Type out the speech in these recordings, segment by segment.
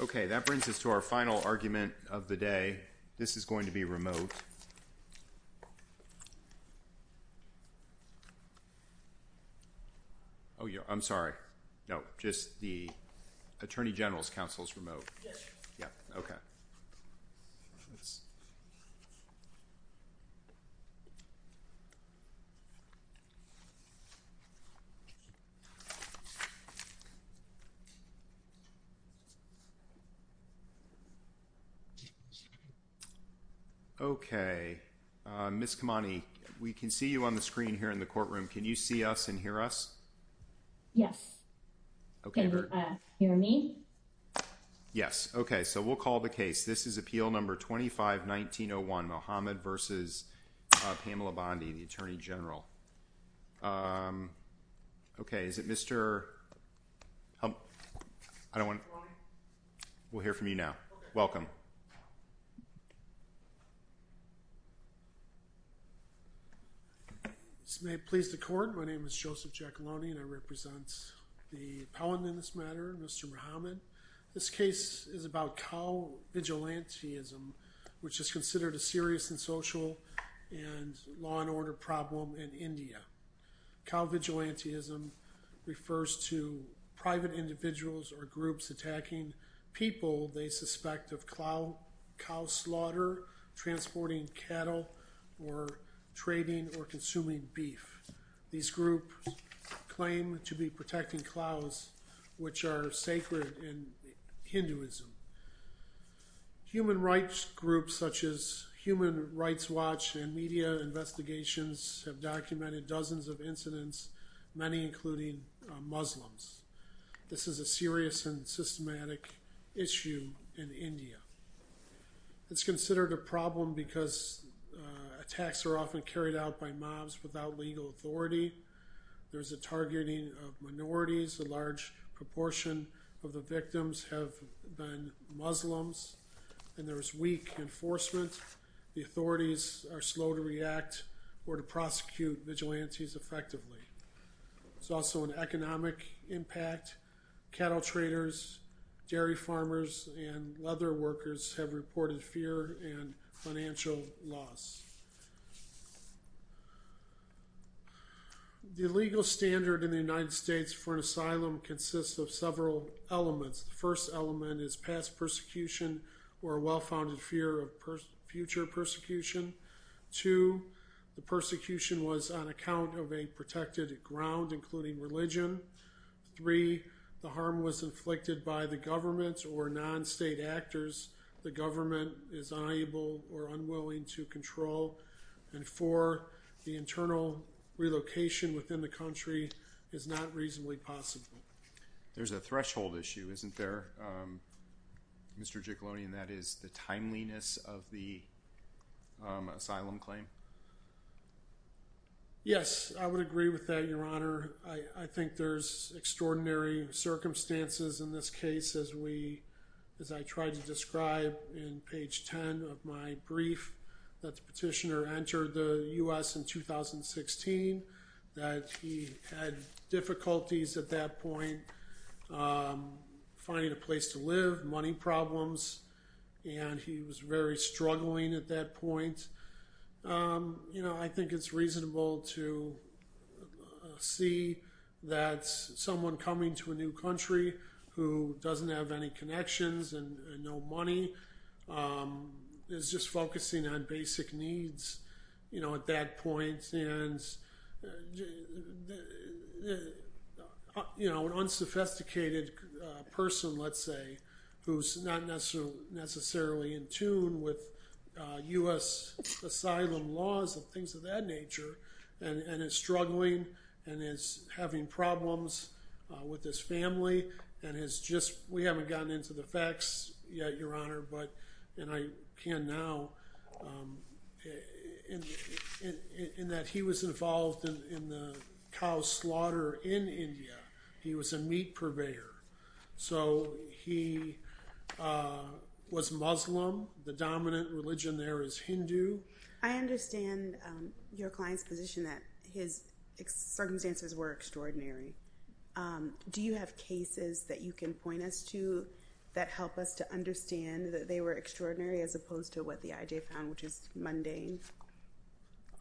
Okay, that brings us to our final argument of the day. This is going to be remote. Oh yeah, I'm sorry. No, just the Attorney General's counsel's remote. Okay, Ms. Kamani, we can see you on the screen here in the courtroom. Can you see us and hear us? Yes. Can you hear me? Yes. Okay, so we'll call the case. This is Appeal Number 25-1901, Mohammed v. Pamela Bondi, the Attorney General. Okay, is it Mr. Humphrey? We'll hear from you now. Okay. Welcome. This may please the Court. My name is Joseph Giacalone, and I represent the appellant in this matter, Mr. Mohammed. This case is about cow vigilantism which is considered a serious and social and law and order problem in India. Cow vigilantism refers to private individuals or groups attacking people they suspect of cow slaughter, transporting cattle, or trading or consuming beef. These groups claim to be protecting cows, which are sacred in Hinduism. Human rights groups such as Human Rights Watch and media investigations have documented dozens of incidents, many including Muslims. This is a serious and systematic issue in India. It's considered a problem because attacks are often carried out by mobs without legal authority. There's a targeting of minorities, a large proportion of the victims have been Muslims, and there's weak enforcement. The authorities are slow to react or to prosecute vigilantes effectively. It's also an economic impact. Cattle traders, dairy farmers, and leather workers have reported fear and financial loss. The legal standard in the United States for an asylum consists of several elements. The first element is past persecution or a well-founded fear of future persecution. Two, the persecution was on account of a protected ground, including religion. Three, the harm was inflicted by the government or non-state actors. The government is unable or unwilling to control. And four, the internal relocation within the country is not reasonably possible. There's a threshold issue, isn't there, Mr. Jickeloni, and that is the timeliness of the asylum claim? Yes, I would agree with that, Your Honor. I think there's extraordinary circumstances in this case, as I tried to describe in page 10 of my brief, that the petitioner entered the U.S. in 2016, that he had difficulties at that point finding a place to live, money problems, and he was very struggling at that point. I think it's reasonable to see that someone coming to a new country who doesn't have any connections and no money is just focusing on basic needs at that point. An unsophisticated person, let's say, who's not necessarily in tune with U.S. asylum laws and things of that nature and is struggling and is having problems with his family. We haven't gotten into the facts yet, Your Honor, and I can now in that he was involved in the cow slaughter in India. He was a meat purveyor, so he was Muslim. The dominant religion there is Hindu. I understand your client's position that his circumstances were extraordinary. Do you have cases that you can point us to that help us to understand that they were extraordinary as opposed to what the IJ found, which is mundane?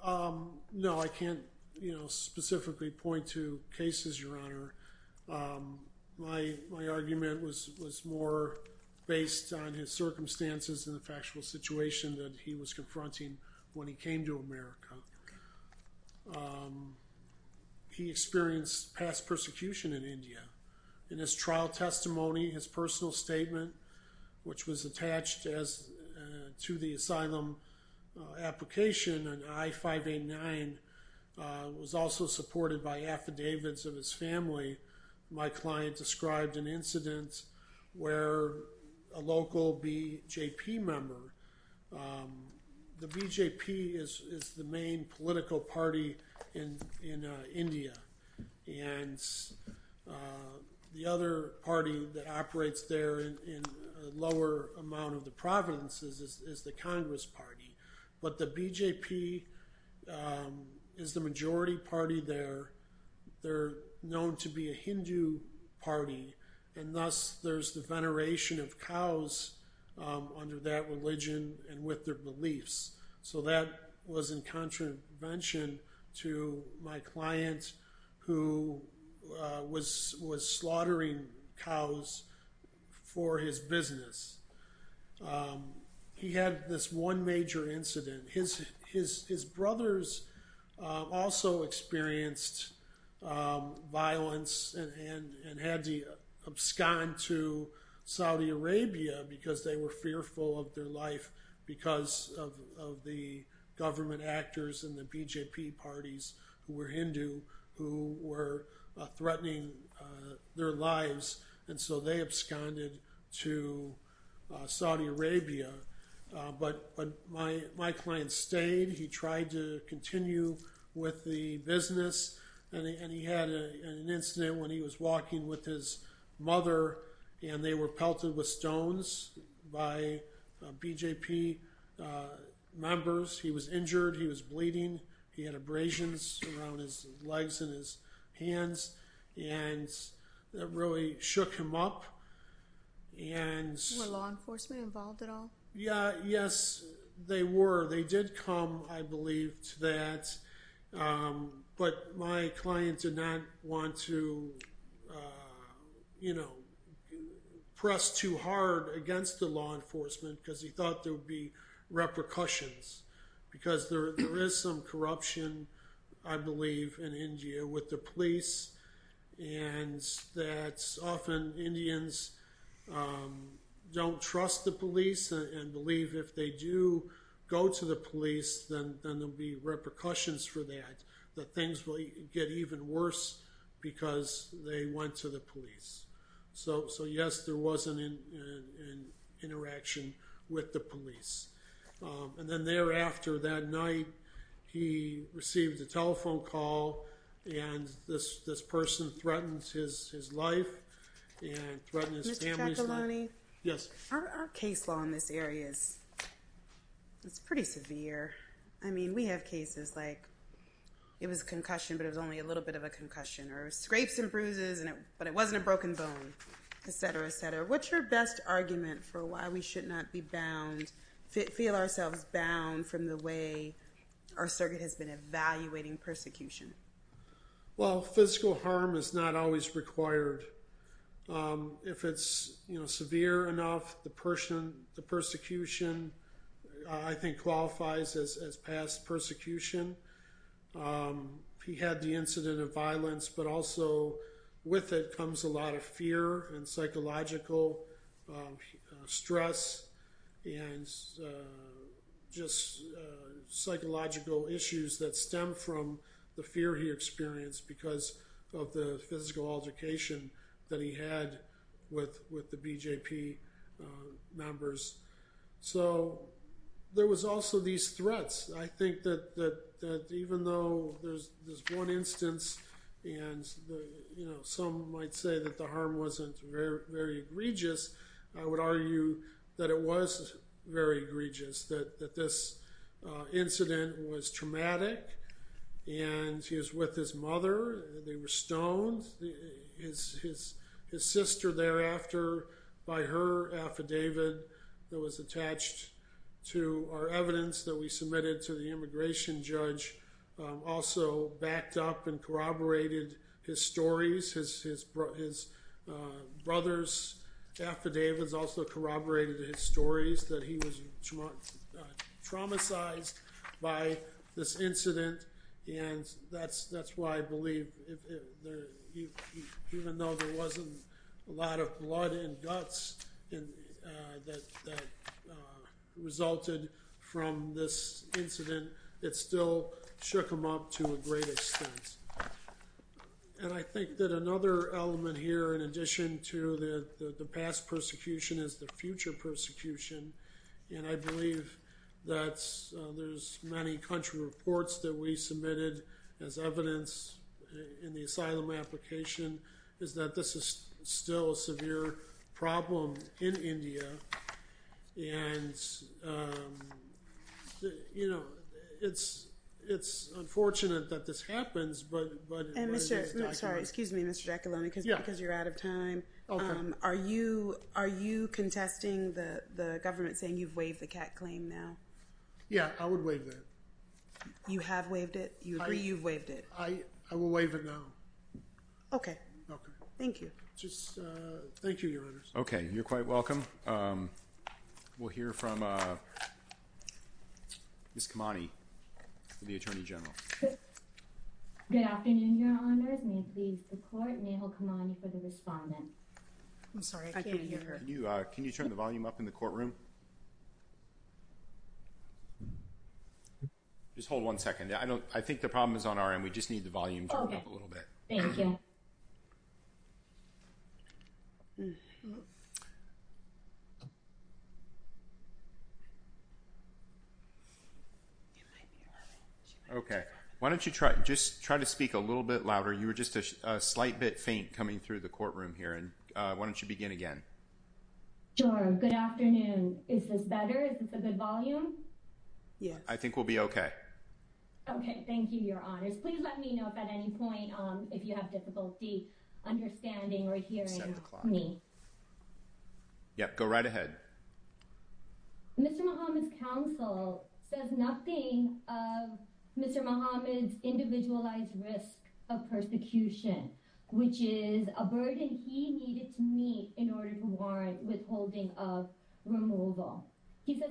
No, I can't, you know, specifically point to cases, Your Honor. My argument was more based on his circumstances than the factual situation that he was confronting when he came to America. He experienced past persecution in India. In his trial testimony, his personal statement, which was attached to the asylum application on I-589, was also supported by affidavits of his family. My client described an incident where a local BJP member, the BJP is the main political party in India, and the other party that operates there in a lower amount of the provinces is the Congress Party, but the BJP is the majority party there. They're known to be a Hindu party, and thus there's the veneration of cows under that religion and with their beliefs. So that was in contravention to my client who was slaughtering cows for his business. He had this one major incident. His brothers also experienced violence and had to abscond to Saudi Arabia because they were fearful of their life because of the government actors and the BJP parties who were Hindu who were threatening their lives, and so they absconded to Saudi Arabia. But my client stayed. He tried to continue with the business, and he had an incident when he was walking with his mother, and they were pelted with stones by BJP members. He was injured. He was bleeding. He had abrasions around his legs and his hands, and that really shook him up. Were law enforcement involved at all? Yeah, yes, they were. They did come, I believe, to that, but my client did not want to, you know, press too hard against the law enforcement because he thought there would be repercussions because there is some corruption, I believe, in India with the police, and that often Indians don't trust the police and believe if they do go to the police, then there'll be because they went to the police. So yes, there was an interaction with the police, and then thereafter that night, he received a telephone call, and this person threatened his life and threatened his family's life. Mr. Ciappelloni? Yes. Our case law in this area is pretty severe. I was concussion, but it was only a little bit of a concussion, or scrapes and bruises, but it wasn't a broken bone, etc., etc. What's your best argument for why we should not be bound, feel ourselves bound from the way our circuit has been evaluating persecution? Well, physical harm is not always required. If it's, you know, severe enough, the person, the persecution, I think, qualifies as past persecution. He had the incident of violence, but also with it comes a lot of fear and psychological stress and just psychological issues that stem from the fear he experienced because of the physical altercation that he had with the BJP members. So there was also these threats. I think that even though there's one instance and, you know, some might say that the harm wasn't very egregious, I would argue that it was very egregious, that this incident was traumatic, and he was with his mother, they were stoned. His sister thereafter, by her affidavit that was attached to our evidence that we submitted to the immigration judge, also backed up and corroborated his stories. His brother's affidavits also corroborated his stories that he was traumatized by this incident, and that's why I believe, even though there wasn't a lot of that resulted from this incident, it still shook him up to a great extent. And I think that another element here, in addition to the past persecution, is the future persecution, and I believe that there's many country reports that we submitted as evidence in the asylum application, is that this is still a severe problem in India, and, you know, it's unfortunate that this happens, but... Excuse me, Mr. Giacalone, because you're out of time, are you contesting the government saying you've waived the CAC claim now? Yeah, I would waive it. You have waived it? You agree to waive it? Thank you. Thank you, Your Honors. Okay, you're quite welcome. We'll hear from Ms. Kamani, the Attorney General. Good afternoon, Your Honors. I'm sorry, I can't hear her. Can you turn the volume up in the courtroom? Just hold one second. I don't, I think the problem is on our end. We just need the volume to come up a little bit. Thank you. Okay, why don't you try, just try to speak a little bit louder. You were just a slight bit faint coming through the courtroom here, and why don't you begin again? Sure, good afternoon. Is this if you have difficulty understanding or hearing me? Yep, go right ahead. Mr. Muhammad's counsel says nothing of Mr. Muhammad's individualized risk of persecution, which is a burden he needed to meet in order to warrant withholding of removal. He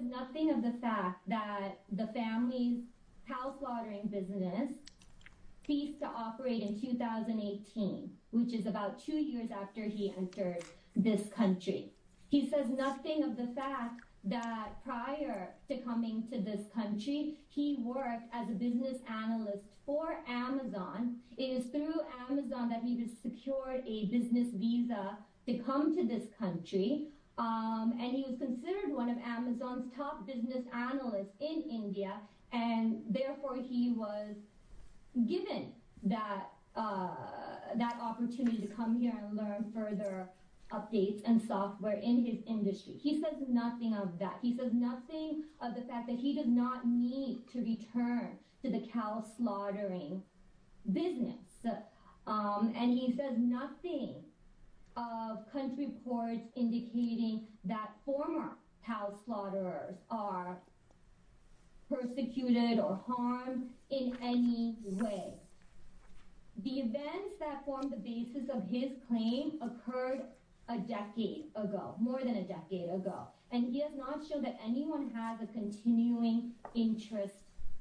agreed to operate in 2018, which is about two years after he entered this country. He says nothing of the fact that prior to coming to this country, he worked as a business analyst for Amazon. It is through Amazon that he was secured a business visa to come to this country. And he was considered one of Amazon's top business analysts in India. And therefore, he was given that opportunity to come here and learn further updates and software in his industry. He says nothing of that. He says nothing of the fact that he did not need to return to the cow slaughtering business. And he says nothing of country reports indicating that former cow slaughterers are persecuted or harmed in any way. The events that formed the basis of his claim occurred a decade ago, more than a decade ago. And he is not sure that anyone has a continuing interest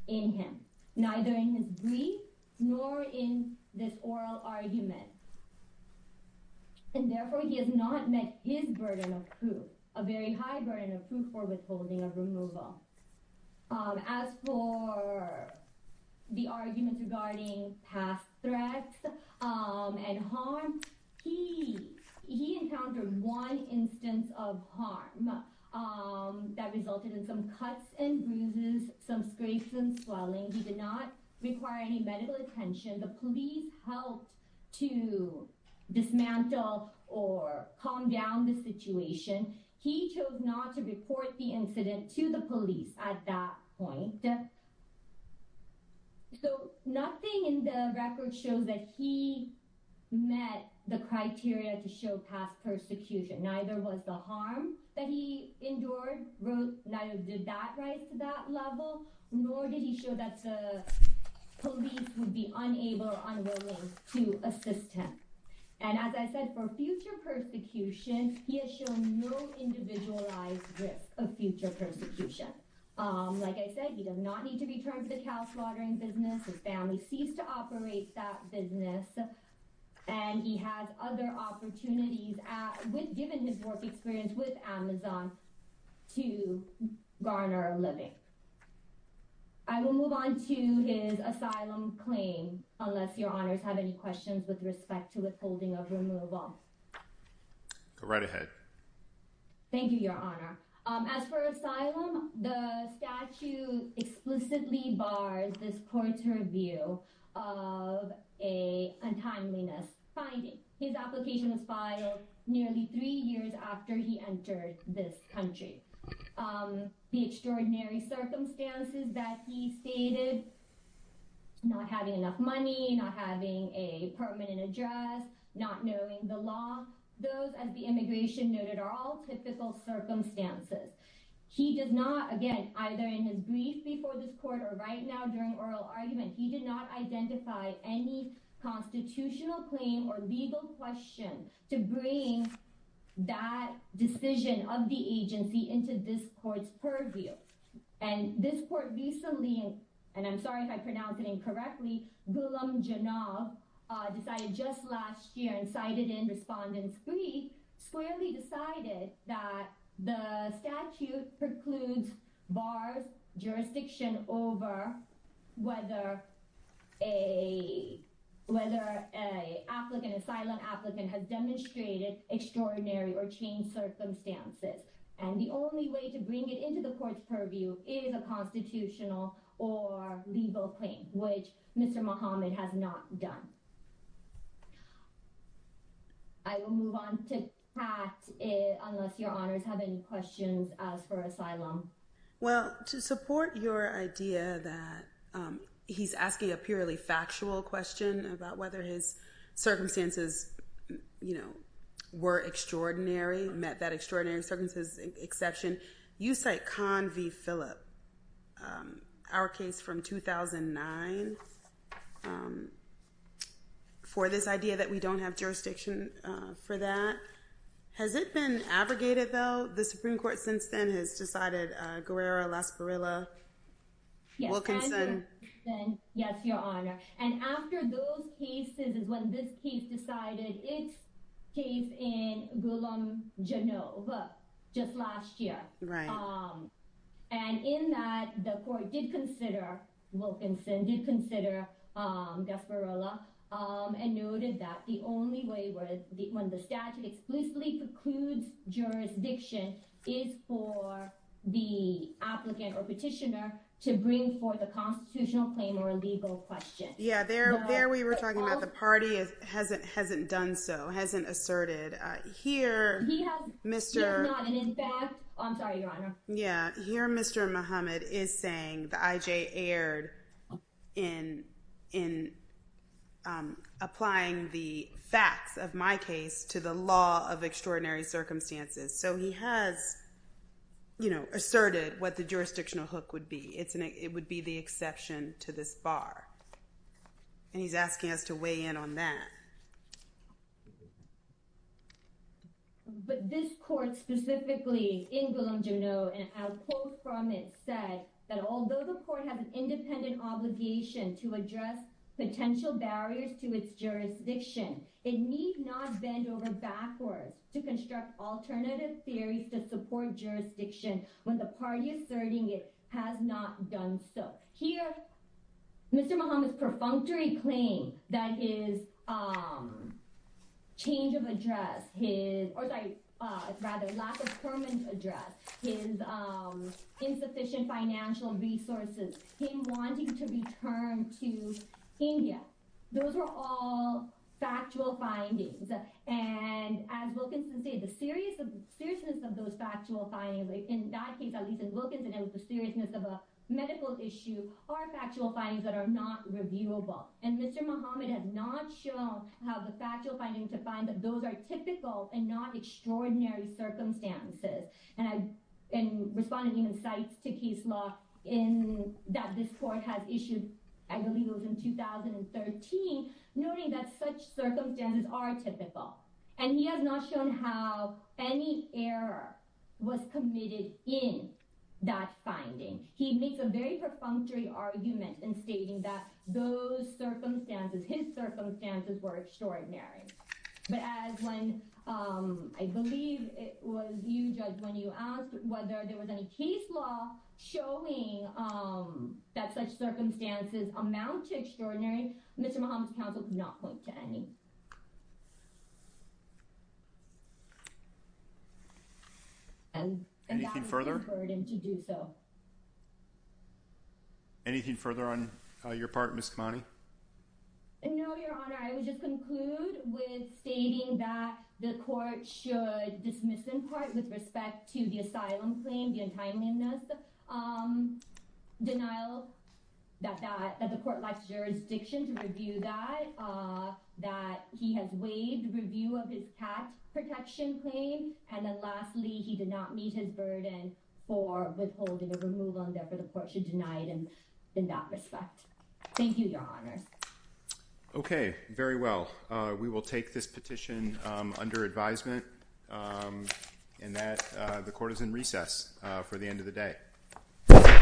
in him, neither in his case, nor in this oral argument. And therefore, he has not met his burden of proof, a very high burden of proof for withholding of removal. As for the argument regarding past threats and harm, he encountered one instance of harm that resulted in some cuts and bruises, some scrapes and swelling. He did not require any medical attention. The police helped to dismantle or calm down the situation. He chose not to report the incident to the police at that point. So nothing in the record shows that he met the criteria to show past persecution. Neither was the harm that he endured, neither did that rise to that level, nor did he show that the police would be unable or unwilling to assist him. And as I said, for future persecution, he has shown no individualized risk of future persecution. Like I said, he did not need to return to the cash laundering business. His family ceased to operate that business. And he has other opportunities, given his work experience with Amazon, to garner a living. I will move on to his asylum claim, unless your honors have any questions with respect to withholding of removal. Go right ahead. Thank you, your honor. As for asylum, the statute exclusively bars this court's review of a untimeliness finding. His application was filed nearly three years after he entered this country. The extraordinary circumstances that he stated, not having enough money, not having a permanent address, not knowing the law, those, as the immigration noted, are all typical circumstances. He did not, again, either in his brief before this court or right now during oral argument, he did not identify any constitutional claim or legal question to bring that decision of the agency into this court's purview. And this court recently, and I'm sorry if I pronounce it incorrectly, Gulamjanov decided just last year and cited in Respondent 3, squarely decided that the statute precludes, bars jurisdiction over whether a, whether a applicant, asylum applicant has demonstrated extraordinary or changed circumstances. And the only way to bring it into the court's purview is a constitutional or legal claim, which Mr. Mohammed has not done. I will move on to pass it unless your honors have any questions for asylum. Well, to support your idea that he's asking a purely factual question about whether his circumstances, you know, were extraordinary, met that extraordinary circumstances exception, you cite Con V. Philip, our case from 2009, for this idea that we don't have jurisdiction for that. Has it been abrogated though? The Supreme Court since then has decided Guerrero, Lasparilla, Wilkinson. Yes, your honor. And after those cases is when this case decided its case in Gulamjanov just last year. Right. And in that the court did consider Wilkinson, did for the applicant or petitioner to bring forth a constitutional claim or a legal question. Yeah, there, there we were talking about the party hasn't, hasn't done so hasn't asserted here. Mr. I'm sorry, your honor. Yeah. Here, Mr. Mohammed is saying the IJ aired in, in applying the facts of my case to the law of extraordinary circumstances. So he has, you know, asserted what the jurisdictional hook would be. It's an, it would be the exception to this bar. And he's asking us to weigh in on that. But this court specifically in Gulamjanov and our quote from it said that although the court has an independent obligation to address potential barriers to its jurisdiction, it need not bend over backwards to construct alternative theories to support jurisdiction when the party asserting it has not done so. Here, Mr. Mohammed's perfunctory claim that is change of address his or rather lack of permanent address his insufficient financial resources, him wanting to return to India. Those are all factual findings. And as Wilkinson said, the seriousness of those factual findings in that case, at least in Wilkinson, it was the seriousness of a medical issue are factual findings that are not reviewable. And Mr. Mohammed has not shown how the factual findings to find that those are typical and not extraordinary circumstances. And in responding insights to case law in that this court has issued, I believe it was in 2013, noting that such circumstances are typical. And he has not shown how any error was committed in that finding. He makes a very perfunctory argument in stating that those circumstances, his circumstances were extraordinary. But as when I believe it was you just when you asked whether there was any case law showing that such circumstances amount to extraordinary, Mr. Mohammed's counsel did not point to any. And any further burden to do so. Anything further on your part, Ms. No, Your Honor, I would just conclude with stating that the court should dismiss in part with respect to the asylum claim, the untimeliness denial that that the court likes jurisdiction to review that, that he has waived review of his past protection claim. And then lastly, he did not meet his burden for withholding of a move on that for the court should deny them in that respect. Thank you, Your Honor. OK, very well, we will take this petition under advisement and that the court is in recess for the end of the day.